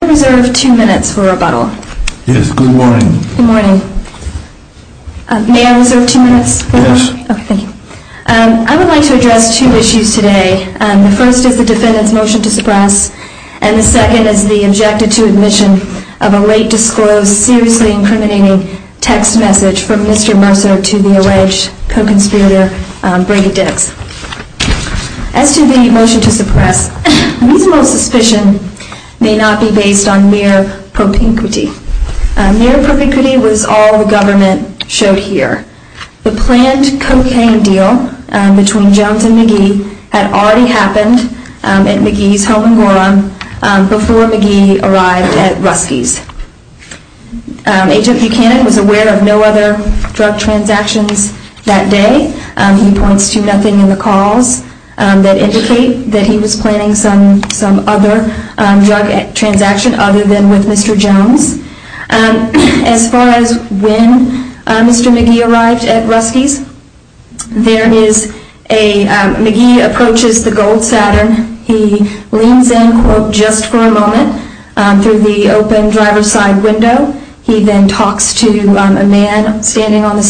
I would like to address two issues today. The first is the defendant's motion to suppress and the second is the objective to admission of a late disclosed, seriously incriminating text message from Mr. Mercer to the alleged co-conspirator Brady Dix. As to the motion to suppress, reasonable suspicion may not be based on mere propinquity. Mere propinquity was all the government showed here. The planned cocaine deal between Jones and McGee had already happened at McGee's home in Gorham before McGee arrived at Rusky's. H.F. Buchanan was aware of no other drug transactions that day. He points to nothing in the calls that indicate that he was planning some other drug transaction other than with Mr. Jones. As far as when Mr. McGee arrived at Rusky's, McGee approaches the gold Saturn. He leans in, quote, just for a moment through the open driver's side window. He then talks to a man standing on The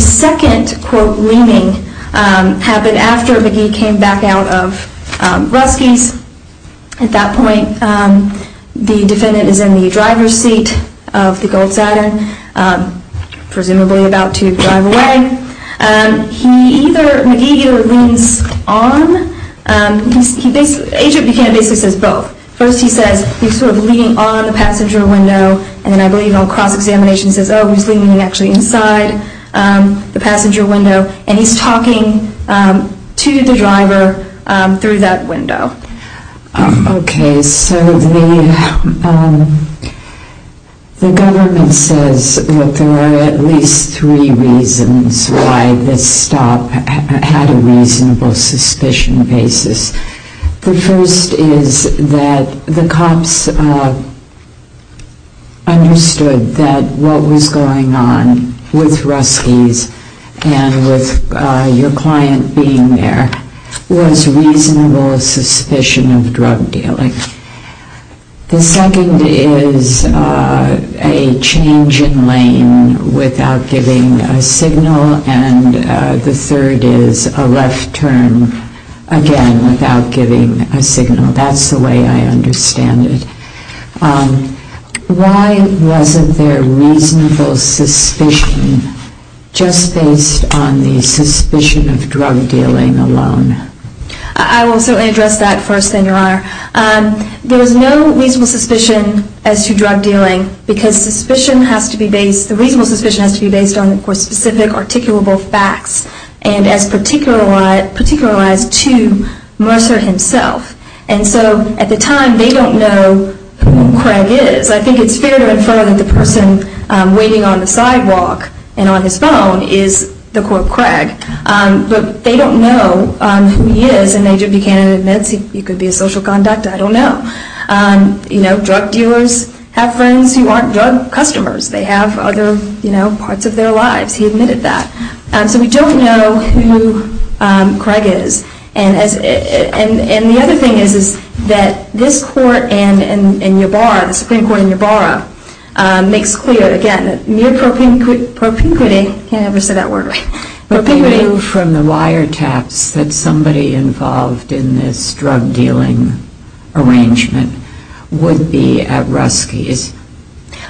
second, quote, leaning happened after McGee came back out of Rusky's. At that point, the defendant is in the driver's seat of the gold Saturn, presumably about to drive away. McGee either leans on, H.F. Buchanan basically says both. First he says he's sort of leaning on the passenger window and then I believe on cross-examination says, oh, he's leaning actually inside the passenger window and he's talking to the driver through that window. Okay, so the government says that there are at least three reasons why this stop had a suspicion basis. The first is that the cops understood that what was going on with Rusky's and with your client being there was reasonable suspicion of drug dealing. The second is a change in lane without giving a signal and the third is a left turn, again, without giving a signal. That's the way I understand it. Why wasn't there reasonable suspicion just based on the suspicion of drug dealing alone? I will certainly address that first, then because the reasonable suspicion has to be based on specific articulable facts and as particularized to Mercer himself. And so at the time, they don't know who Craig is. I think it's fair to infer that the person waiting on the sidewalk and on his phone is the court Craig, but they don't know who he is and H.F. Buchanan admits he could be a social conduct I don't know. Drug dealers have friends who aren't drug customers. They have other parts of their lives. He admitted that. So we don't know who Craig is. And the other thing is that this court and Yabarra, the Supreme Court in Yabarra, makes clear, again, mere propinquity from the wiretaps that somebody involved in this drug dealing arrangement would be at Rusky's.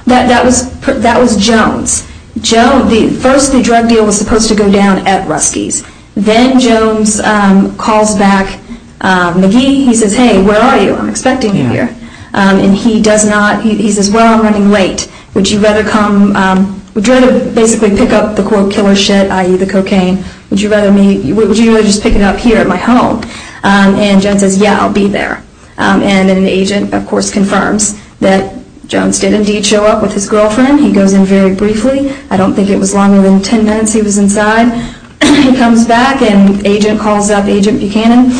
That was Jones. First the drug deal was supposed to go down at Rusky's. Then Jones calls back McGee. He says, hey, where are you? I'm expecting you here. And he does not answer. He says, well, I'm running late. Would you rather come, would you rather basically pick up the quote killer shit, i.e. the cocaine, would you rather just pick it up here at my home? And Jones says, yeah, I'll be there. And an agent, of course, confirms that Jones did indeed show up with his girlfriend. He goes in very briefly. I don't think it was longer than ten minutes he was inside. He comes back and agent calls up agent Buchanan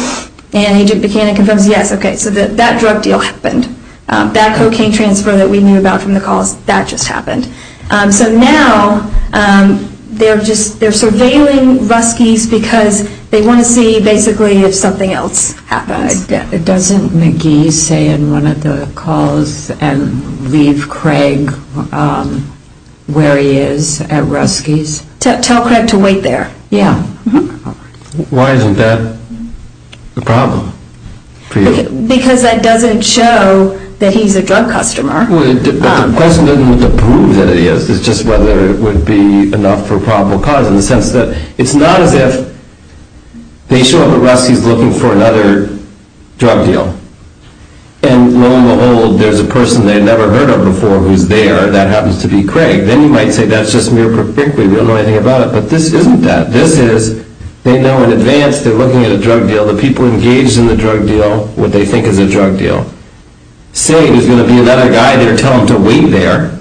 and agent Buchanan confirms, yes, okay, so that drug deal happened. That cocaine transfer that we knew about from the calls, that just happened. So now they're just, they're surveilling Rusky's because they want to see basically if something else happens. Doesn't McGee say in one of the calls and leave Craig where he is at Rusky's? Tell Craig to wait there. Yeah. Why isn't that a problem for you? Because that doesn't show that he's a drug customer. Well, the question isn't what the proof that it is. It's just whether it would be enough for probable cause in the sense that it's not as if they show up at Rusky's looking for another drug deal. And lo and behold, there's a person they'd never heard of before who's there. That happens to be Craig. Then you might say that's just mere perplexity. We don't know anything about it. But this isn't that. This is, they know in advance they're looking at a drug deal, the people engaged in the drug deal, what they think is a drug deal. Say there's going to be another guy there, tell him to wait there.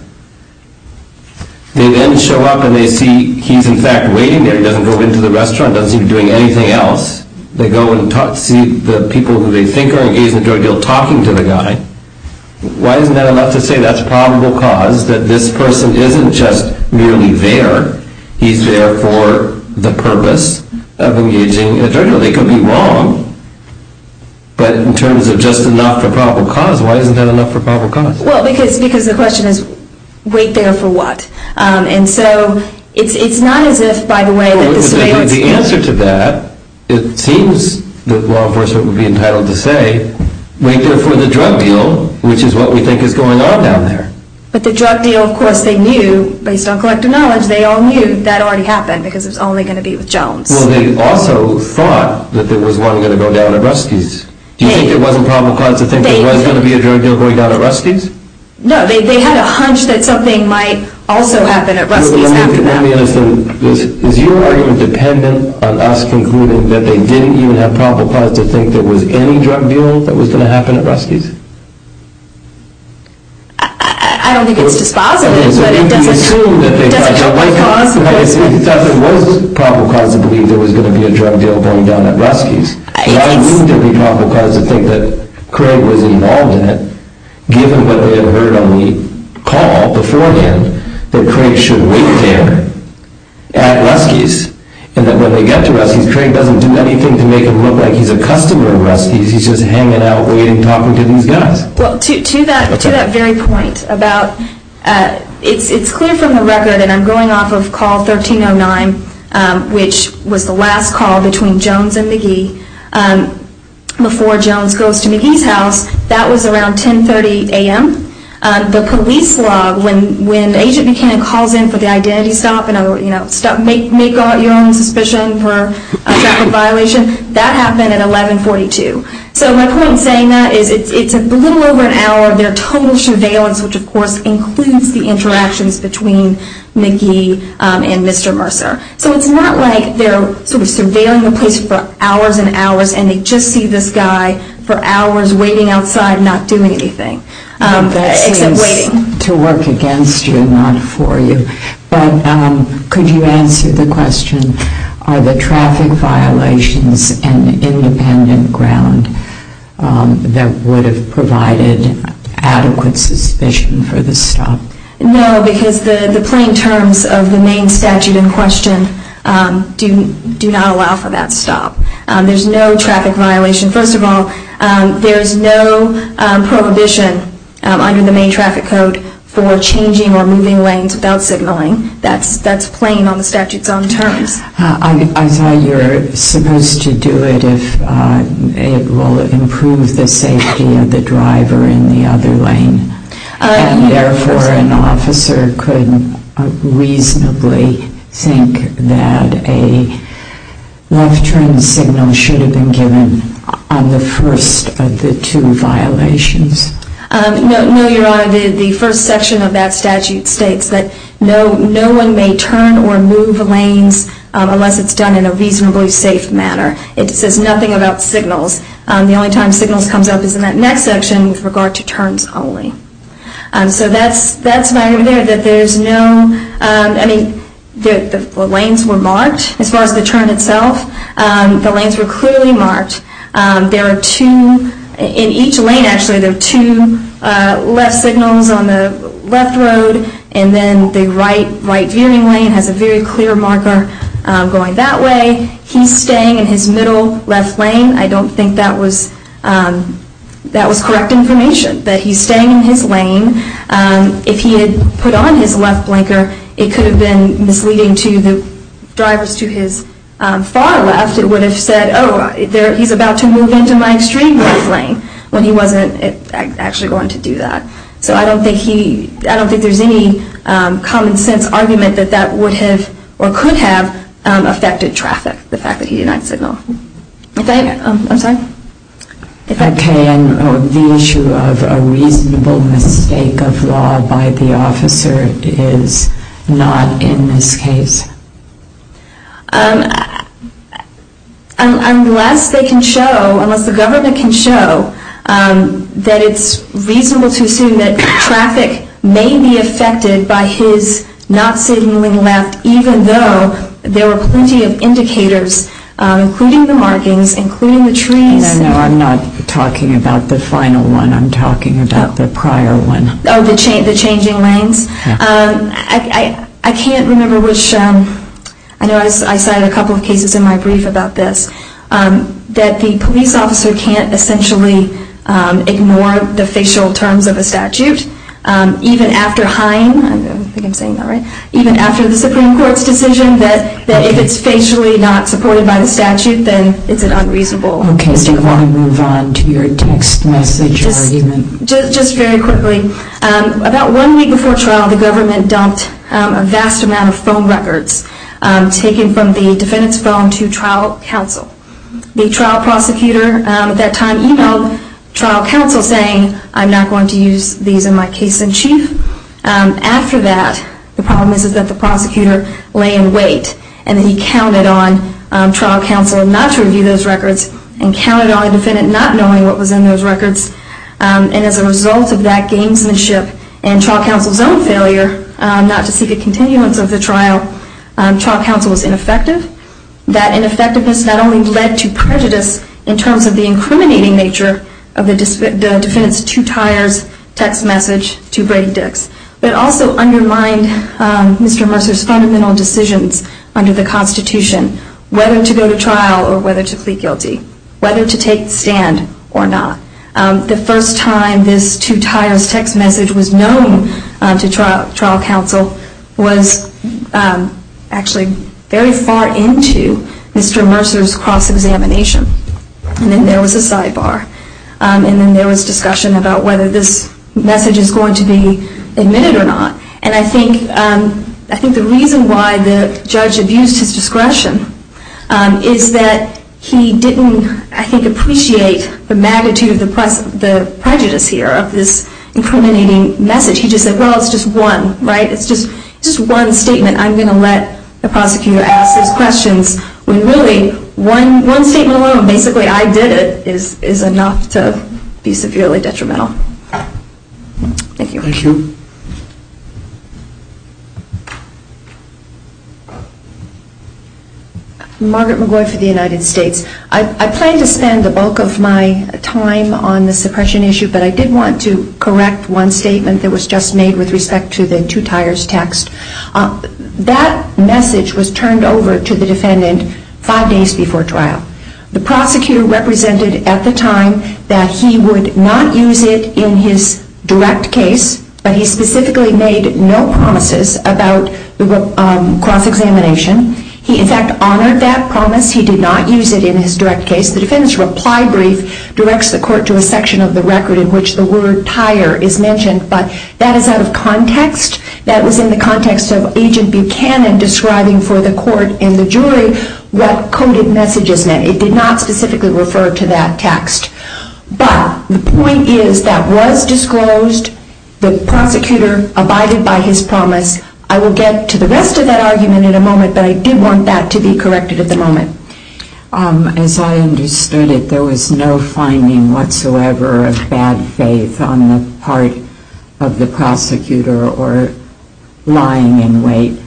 They then show up and they see he's in fact waiting there. He doesn't go into the restaurant, doesn't seem to be doing anything else. They go and see the people who they think are engaged in the drug deal talking to the guy. Why isn't that enough to say that's probable cause, that this person isn't just merely there, he's there for the purpose of engaging in a drug deal? They could be wrong. But in terms of just enough for probable cause, why isn't that enough for probable cause? Well, because the question is wait there for what? And so it's not as if, by the way, that the surveillance... Well, what would be the answer to that? It seems that law enforcement would be entitled to say, wait there for the drug deal, which is what we think is going on down there. But the drug deal, of course, they knew, based on collective knowledge, they all knew that already happened because it was only going to be with Jones. Well, they also thought that there was one going to go down at Ruski's. Do you think it wasn't probable cause to think there was going to be a drug deal going down at Ruski's? No, they had a hunch that something might also happen at Ruski's after that. Let me ask you, is your argument dependent on us concluding that they didn't even have probable cause to think there was any drug deal that was going to happen at Ruski's? I don't think it's dispositive, but it doesn't help my cause. So you assume that they thought there was probable cause to believe there was going to be a drug deal going down at Ruski's. Yes. But I assume there would be probable cause to think that Craig was involved in it, given what they had heard on the call beforehand, that Craig should wait there at Ruski's, and that when they get to Ruski's, Craig doesn't do anything to make him look like he's a customer at Ruski's. He's just hanging out, waiting, talking to these guys. Well, to that very point, it's clear from the record, and I'm going off of call 1309, which was the last call between Jones and McGee, before Jones goes to McGee's house. That was around 10.30 a.m. The police log, when Agent McKinnon calls in for the identity stop, make your own suspicion for a traffic violation. That happened at 11.42. So my point in saying that is it's a little over an hour of their total surveillance, which of course includes the interactions between McGee and Mr. Mercer. So it's not like they're sort of surveilling the place for hours and hours, and they just see this guy for hours waiting outside, not doing anything, except waiting. To work against you, not for you. But could you answer the question, are the traffic violations an independent ground that would have provided adequate suspicion for the stop? No, because the plain terms of the main statute in question do not allow for that stop. There's no traffic violation. First of all, there's no prohibition under the main traffic code for changing or moving lanes without signaling. That's plain on the statute's own terms. I thought you were supposed to do it if it will improve the safety of the driver in the other lane, and therefore an officer could reasonably think that a left turn signal should have been given on the first of the two violations. No, Your Honor, the first section of that statute states that no one may turn or move lanes unless it's done in a reasonably safe manner. It says nothing about signals. The only time signals comes up is in that next section with regard to turns only. So that's my idea, that there's no, I mean, the lanes were marked as far as the turn itself. The lanes were clearly marked. There are two, in each lane actually, there are two left signals on the left road, and then the right veering lane has a very clear marker going that way. He's staying in his middle left lane. I don't think that was correct information, that he's staying in his lane. If he had put on his left blinker, it could have been misleading to the drivers to his far left, it would have said, oh, he's about to move into my extreme left lane, when he wasn't actually going to do that. So I don't think there's any common sense argument that that would have or could have affected traffic, the fact that he did not signal. I'm sorry? Okay, and the issue of a reasonable mistake of law by the officer is not in this case? Unless they can show, unless the government can show that it's reasonable to assume that traffic may be affected by his not signaling left, even though there were plenty of indicators, including the markings, including the trees. No, no, I'm not talking about the final one. I'm talking about the prior one. Oh, the changing lanes? I can't remember which, I know I cited a couple of cases in my brief about this, that the police officer can't essentially ignore the facial terms of a statute, even after Hine, I think I'm saying that right, even after the Supreme Court's decision that if it's facially not supported by the statute, then it's an unreasonable mistake. Okay, do you want to move on to your text message argument? Just very quickly, about one week before trial, the government dumped a vast amount of phone records taken from the defendant's phone to trial counsel. The trial prosecutor at that time emailed trial counsel saying, I'm not going to use these in my case in chief. After that, the problem is that the prosecutor lay in wait, and then he counted on trial counsel not to review those records, and counted on the defendant not knowing what was in those records, and as a result of that gamesmanship and trial counsel's own failure not to see the continuance of the trial, trial counsel was ineffective. That ineffectiveness not only led to prejudice in terms of the incriminating nature of the defendant's two tires text message to Brady Dix, but also undermined Mr. Mercer's fundamental decisions under the Constitution, whether to go to trial or whether to plead guilty, whether to take the stand or not. The first time this two tires text message was known to trial counsel was actually very far into Mr. Mercer's cross-examination. And then there was a sidebar. And then there was discussion about whether this message is going to be admitted or not. And I think the reason why the judge abused his discretion is that he didn't, I think, appreciate the magnitude of the prejudice here of this incriminating message. He just said, well, it's just one, right? It's just one statement. I'm going to let the prosecutor ask those questions when really one statement alone, basically I did it, is enough to be severely detrimental. Thank you. Thank you. Margaret McGoy for the United States. I plan to spend the bulk of my time on the suppression issue, but I did want to correct one statement that was just made with respect to the two tires text. That message was turned over to the defendant five days before trial. The prosecutor represented at the time that he would not use it in his direct case, but he specifically made no promises about cross-examination. He, in fact, honored that promise. He did not use it in his direct case. The defendant's reply brief directs the court to a section of the record in which the word tire is mentioned, but that is out of context. That was in the context of Agent Buchanan describing for the court and the jury what coded messages meant. It did not specifically refer to that text. But the point is that was disclosed. The prosecutor abided by his promise. I will get to the rest of that argument in a moment, but I did want that to be corrected at the moment. As I understood it, there was no finding whatsoever of bad faith on the part of the prosecutor or lying in wait.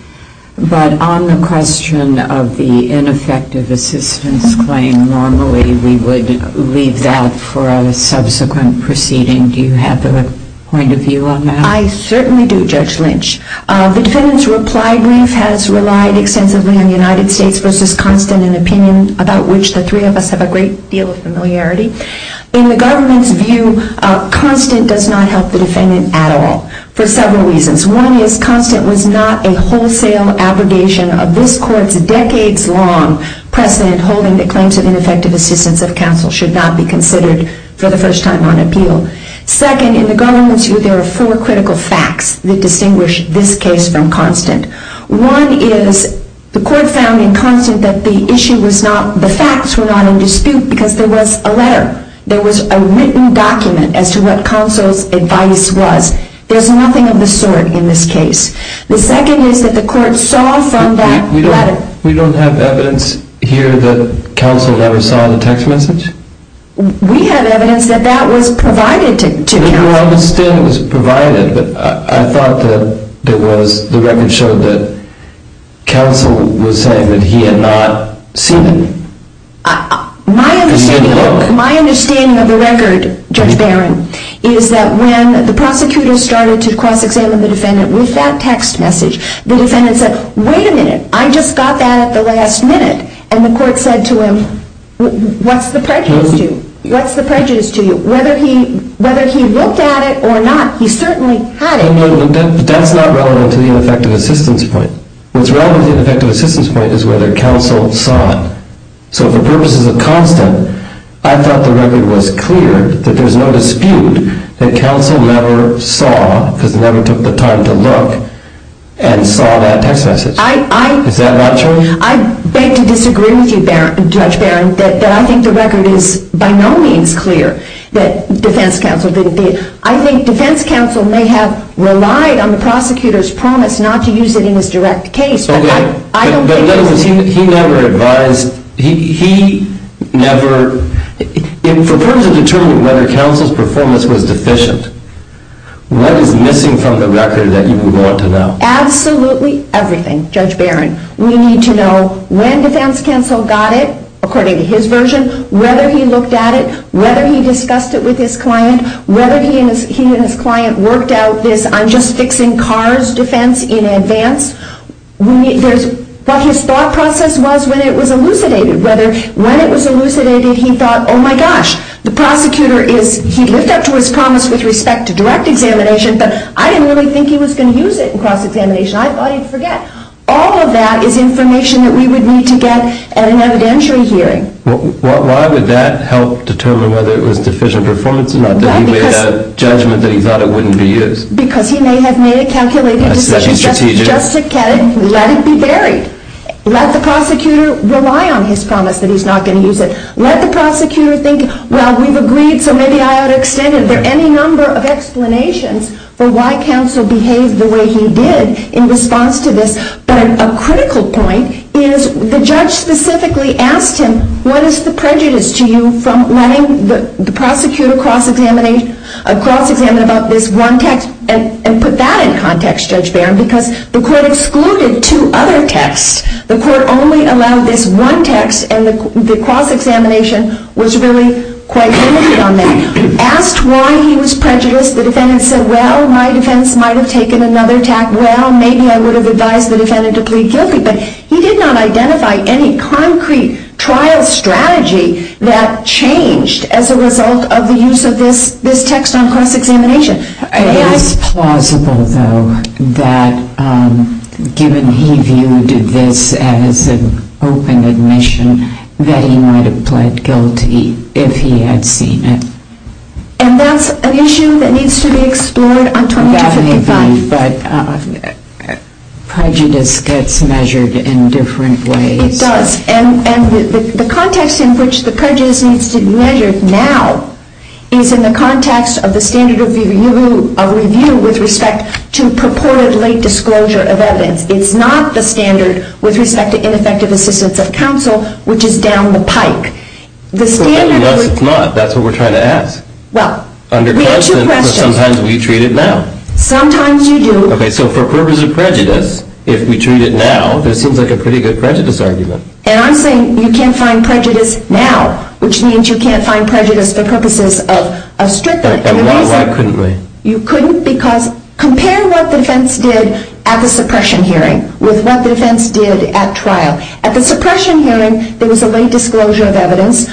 But on the question of the ineffective assistance claim, normally we would leave that for a subsequent proceeding. Do you have a point of view on that? I certainly do, Judge Lynch. The defendant's reply brief has relied extensively on United States v. Constant, an opinion about which the three of us have a great deal of familiarity. In the government's view, Constant does not help the defendant at all for several reasons. One is Constant was not a wholesale abrogation of this court's decades-long precedent holding that claims of ineffective assistance of counsel should not be considered for the first time on appeal. Second, in the government's view, there are four critical facts that distinguish this case from Constant. One is the court found in Constant that the facts were not in dispute because there was a letter, there was a written document as to what counsel's advice was. There's nothing of the sort in this case. The second is that the court saw from that letter... We don't have evidence here that counsel never saw the text message? We have evidence that that was provided to counsel. I understand it was provided, but I thought that the record showed that counsel was saying that he had not seen it. My understanding of the record, Judge Barron, is that when the prosecutor started to cross-examine the defendant with that text message, the defendant said, wait a minute, I just got that at the last minute. And the court said to him, what's the prejudice to you? What's the prejudice to you? Whether he looked at it or not, he certainly had it. That's not relevant to the ineffective assistance point. What's relevant to the ineffective assistance point is whether counsel saw it. So for purposes of Constant, I thought the record was clear that there's no dispute that counsel never saw, because he never took the time to look, and saw that text message. Is that not true? I beg to disagree with you, Judge Barron, that I think the record is by no means clear that defense counsel didn't see it. I think defense counsel may have relied on the prosecutor's promise not to use it in his direct case, but I don't think... But in other words, he never advised... He never... In terms of determining whether counsel's performance was deficient, what is missing from the record that you want to know? Absolutely everything, Judge Barron. We need to know when defense counsel got it, according to his version, whether he looked at it, whether he discussed it with his client, whether he and his client worked out this I'm just fixing cars defense in advance. What his thought process was when it was elucidated, whether when it was elucidated he thought, oh my gosh, the prosecutor is... He lived up to his promise with respect to direct examination, but I didn't really think he was going to use it in cross-examination. I thought he'd forget. All of that is information that we would need to get at an evidentiary hearing. Why would that help determine whether it was deficient performance or not, that he made a judgment that he thought it wouldn't be used? Because he may have made a calculated decision just to let it be buried. Let the prosecutor rely on his promise that he's not going to use it. Let the prosecutor think, well, we've agreed, so maybe I ought to extend it. Are there any number of explanations for why counsel behaved the way he did in response to this? But a critical point is the judge specifically asked him, what is the prejudice to you from letting the prosecutor cross-examine about this one text? And put that in context, Judge Barron, because the court excluded two other texts. The court only allowed this one text, and the cross-examination was really quite limited on that. He asked why he was prejudiced. The defendant said, well, my defense might have taken another tact. Well, maybe I would have advised the defendant to plead guilty. But he did not identify any concrete trial strategy that changed as a result of the use of this text on cross-examination. It is plausible, though, that given he viewed this as an open admission, that he might have pleaded guilty if he had seen it. And that's an issue that needs to be explored on 2255. Definitely, but prejudice gets measured in different ways. It does. And the context in which the prejudice needs to be measured now is in the context of the standard of review with respect to purported late disclosure of evidence. It's not the standard with respect to ineffective assistance of counsel, which is down the line. No, it's not. That's what we're trying to ask. Well, we have two questions. Sometimes we treat it now. Sometimes you do. OK, so for purposes of prejudice, if we treat it now, this seems like a pretty good prejudice argument. And I'm saying you can't find prejudice now, which means you can't find prejudice for purposes of strict and reasonable. And why couldn't we? You couldn't because compare what the defense did at the suppression hearing with what the defense did at trial. At the suppression hearing, there was a late disclosure of evidence.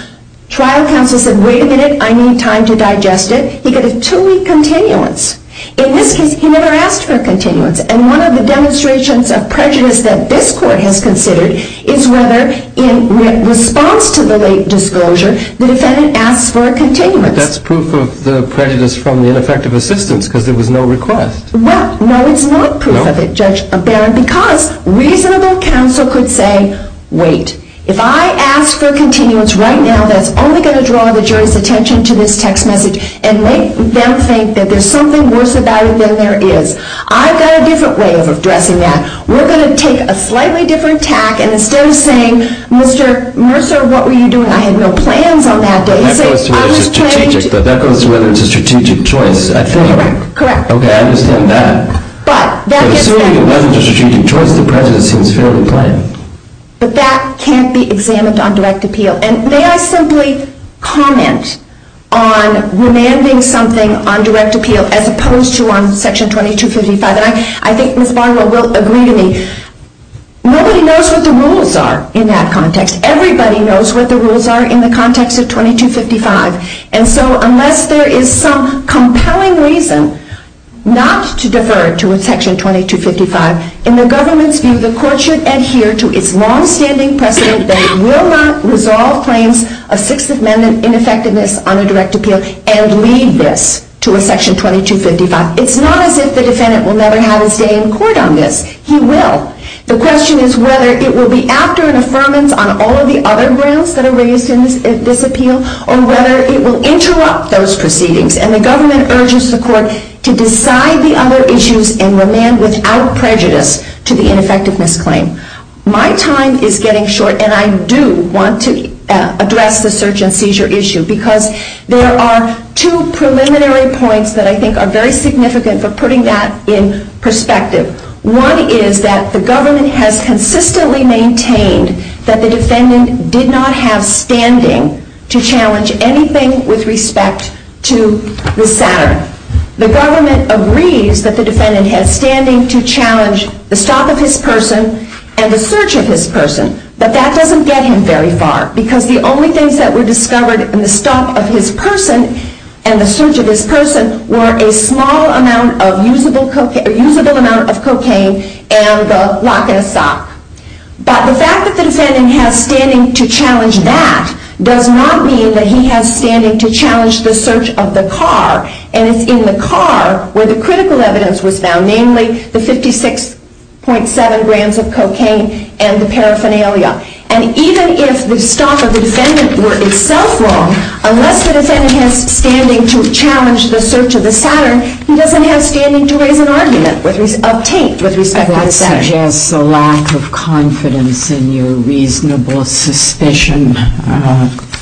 Trial counsel said, wait a minute. I need time to digest it. He got a two-week continuance. In this case, he never asked for a continuance. And one of the demonstrations of prejudice that this court has considered is whether in response to the late disclosure, the defendant asks for a continuance. But that's proof of the prejudice from the ineffective assistance because there was no request. Well, no, it's not proof of it, Judge Barron, because reasonable counsel could say, wait. If I ask for continuance right now, that's only going to draw the jury's attention to this text message and make them think that there's something worse about it than there is. I've got a different way of addressing that. We're going to take a slightly different tack. And instead of saying, Mr. Mercer, what were you doing? I had no plans on that day. But that goes to whether it's a strategic choice, I think. Correct. OK, I understand that. But that gets back. But that can't be examined on direct appeal. And may I simply comment on remanding something on direct appeal as opposed to on Section 2255? And I think Ms. Barnwell will agree with me. Nobody knows what the rules are in that context. Everybody knows what the rules are in the context of 2255. And so unless there is some compelling reason not to defer to a Section 2255, in the government's view, the court should adhere to its longstanding precedent that it will not resolve claims of Sixth Amendment ineffectiveness on a direct appeal and leave this to a Section 2255. It's not as if the defendant will never have his day in court on this. He will. The question is whether it will be after an affirmance on all of the other grounds that were raised in this appeal or whether it will interrupt those proceedings. And the government urges the court to decide the other issues and remand without prejudice to the ineffectiveness claim. My time is getting short. And I do want to address the search and seizure issue. Because there are two preliminary points that I think are very significant for putting that in perspective. One is that the government has consistently maintained that the defendant did not have standing to challenge anything with respect to the Saturn. The government agrees that the defendant has standing to challenge the stop of his person and the search of his person. But that doesn't get him very far. Because the only things that were discovered in the stop of his person and the search of his person were a small amount of usable cocaine and the lock and a sock. But the fact that the defendant has standing to challenge that does not mean that he has standing to challenge the search of the car. And it's in the car where the critical evidence was found, namely the 56.7 grams of cocaine and the paraphernalia. And even if the stop of the defendant were itself wrong, unless the defendant has standing to challenge the search of the Saturn, he doesn't have standing to raise an argument of taint with respect to the Saturn. That suggests a lack of confidence in your reasonable suspicion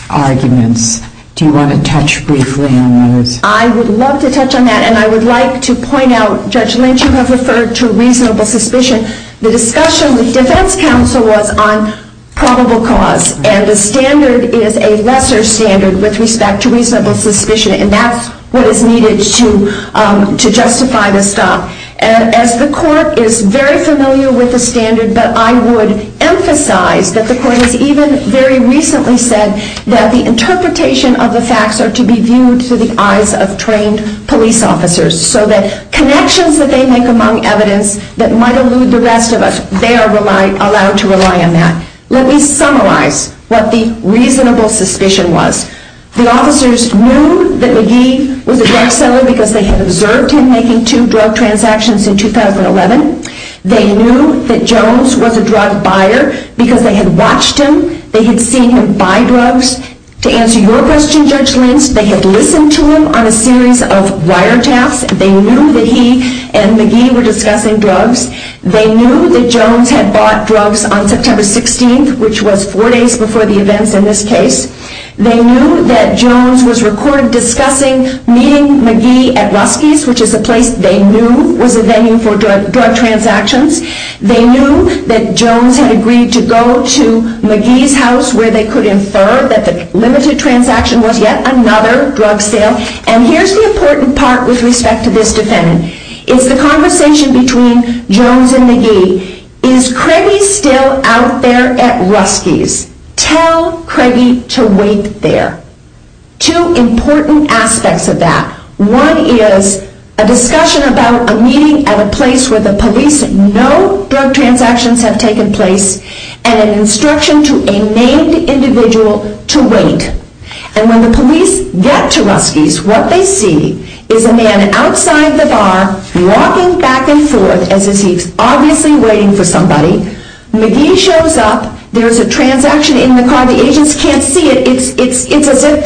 arguments. Do you want to touch briefly on those? I would love to touch on that. And I would like to point out, Judge Lynch, you have referred to reasonable suspicion. The discussion with defense counsel was on probable cause. And the standard is a lesser standard with respect to reasonable suspicion. And that's what is needed to justify the stop. As the court is very familiar with the standard, but I would emphasize that the court has even very recently said that the interpretation of the facts are to be viewed through the eyes of trained police officers. So that connections that they make among evidence that might elude the rest of us, they are allowed to rely on that. Let me summarize what the reasonable suspicion was. The officers knew that McGee was a drug seller because they had observed him making two drug transactions in 2011. They knew that Jones was a drug buyer because they had watched him. They had seen him buy drugs. To answer your question, Judge Lynch, they had listened to him on a series of wiretaps. They knew that he and McGee were discussing drugs. They knew that Jones had bought drugs on September 16th, which was four days before the events in this case. They knew that Jones was recorded discussing meeting McGee at Rusky's, which is a place they knew was a venue for drug transactions. They knew that Jones had agreed to go to McGee's house where they could infer that the limited transaction was yet another drug sale. And here's the important part with respect to this defendant. It's the conversation between Jones and McGee. Is Craigie still out there at Rusky's? Tell Craigie to wait there. Two important aspects of that. One is a discussion about a meeting at a place where the police know drug transactions have taken place and an instruction to a named individual to wait. And when the police get to Rusky's, what they see is a man outside the bar walking back and forth as if he's obviously waiting for somebody. McGee shows up. There's a transaction in the car. The agents can't see it. It's as if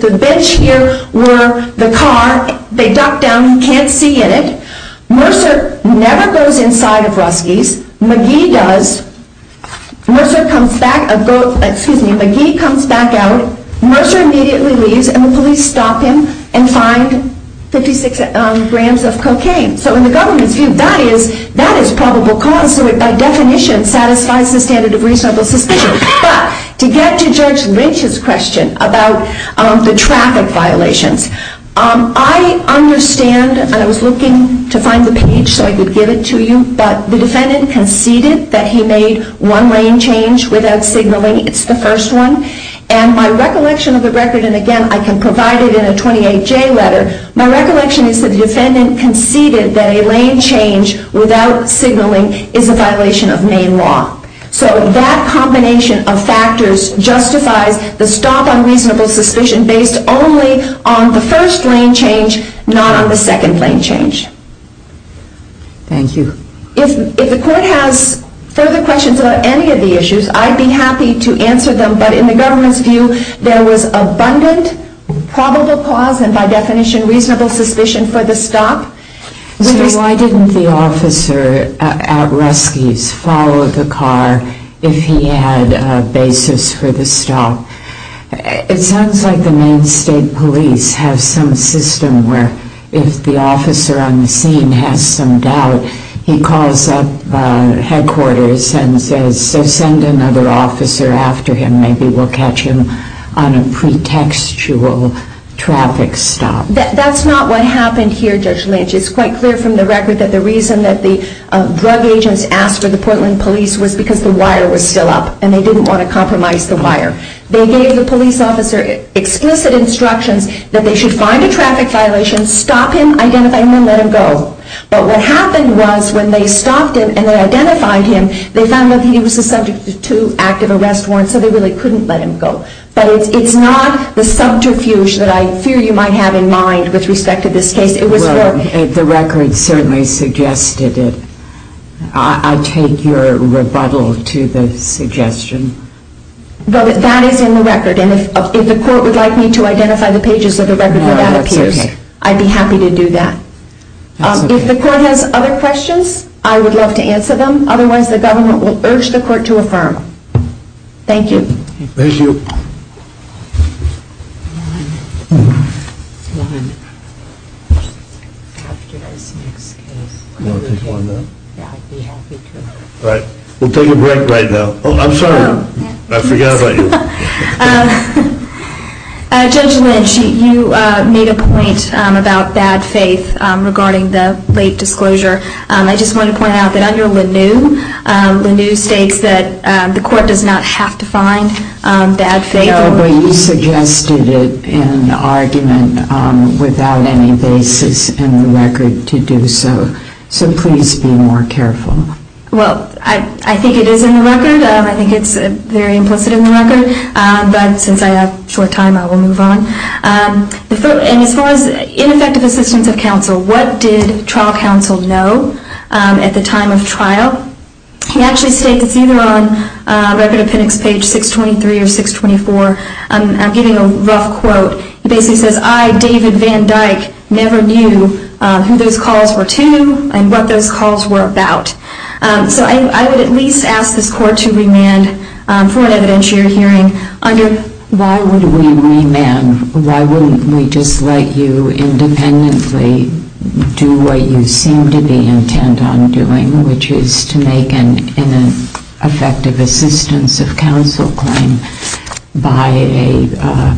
the bench here were the car. They duck down. You can't see in it. Mercer never goes inside of Rusky's. McGee does. Mercer comes back, excuse me, McGee comes back out. Mercer immediately leaves and the police stop him and find 56 grams of cocaine. So in the government's view, that is probable cause. So it by definition satisfies the standard of reasonable suspicion. But to get to Judge Lynch's question about the traffic violations, I understand, and I was looking to find the page so I could give it to you, but the defendant conceded that he made one lane change without signaling. It's the first one. And my recollection of the record, and, again, I can provide it in a 28J letter, my recollection is that the defendant conceded that a lane change without signaling is a violation of Maine law. So that combination of factors justifies the stop on reasonable suspicion based only on the first lane change, not on the second lane change. Thank you. If the court has further questions about any of the issues, I'd be happy to answer them. But in the government's view, there was abundant probable cause and by definition reasonable suspicion for the stop. Why didn't the officer at Rusky's follow the car if he had a basis for the stop? It sounds like the Maine State Police have some system where if the officer on the scene has some doubt, he calls up headquarters and says, so send another officer after him. Maybe we'll catch him on a pretextual traffic stop. That's not what happened here, Judge Lynch. It's quite clear from the record that the reason that the drug agents asked for the Portland Police was because the wire was still up and they didn't want to compromise the wire. They gave the police officer explicit instructions that they should find a traffic violation, stop him, identify him, and let him go. But what happened was when they stopped him and they identified him, they found that he was a subject to active arrest warrants, so they really couldn't let him go. But it's not the subterfuge that I fear you might have in mind with respect to this case. The record certainly suggested it. I take your rebuttal to the suggestion. That is in the record. And if the court would like me to identify the pages of the record where that appears, I'd be happy to do that. If the court has other questions, I would love to answer them. Otherwise, the government will urge the court to affirm. Thank you. Thank you. All right. We'll take a break right now. Oh, I'm sorry. I forgot about you. Judge Lynch, you made a point about bad faith regarding the late disclosure. I just want to point out that under Lanoue, Lanoue states that the court does not have to find bad faith. No, but you suggested it in the argument without any basis in the record to do so. So please be more careful. Well, I think it is in the record. I think it's very implicit in the record. But since I have short time, I will move on. And as far as ineffective assistance of counsel, what did trial counsel know at the time of trial? He actually states it's either on Record Appendix Page 623 or 624. I'm giving a rough quote. He basically says, I, David Van Dyke, never knew who those calls were to and what those calls were about. So I would at least ask this court to remand for an evidentiary hearing under. Why would we remand? Why wouldn't we just let you independently do what you seem to be intent on doing, which is to make an ineffective assistance of counsel claim by a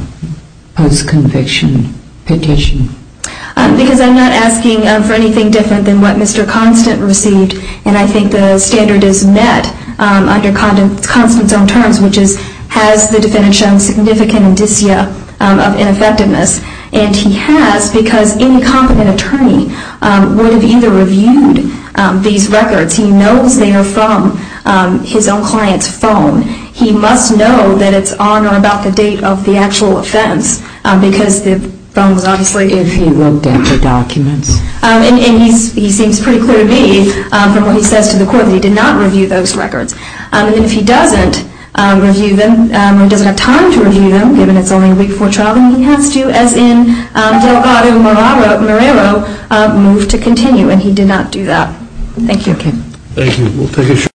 post-conviction petition? Because I'm not asking for anything different than what Mr. Constant received. And I think the standard is met under Constant's own terms, which is has the defendant shown significant indicia of ineffectiveness? And he has, because any competent attorney would have either reviewed these records. He knows they are from his own client's phone. He must know that it's on or about the date of the actual offense, because the phone was obviously if he looked at the documents. And he seems pretty clear to me from what he says to the court that he did not review those records. And if he doesn't review them or doesn't have time to review them, given it's only a week before trial, then he has to, as in Delgado-Morero, move to continue. And he did not do that. Thank you. Thank you.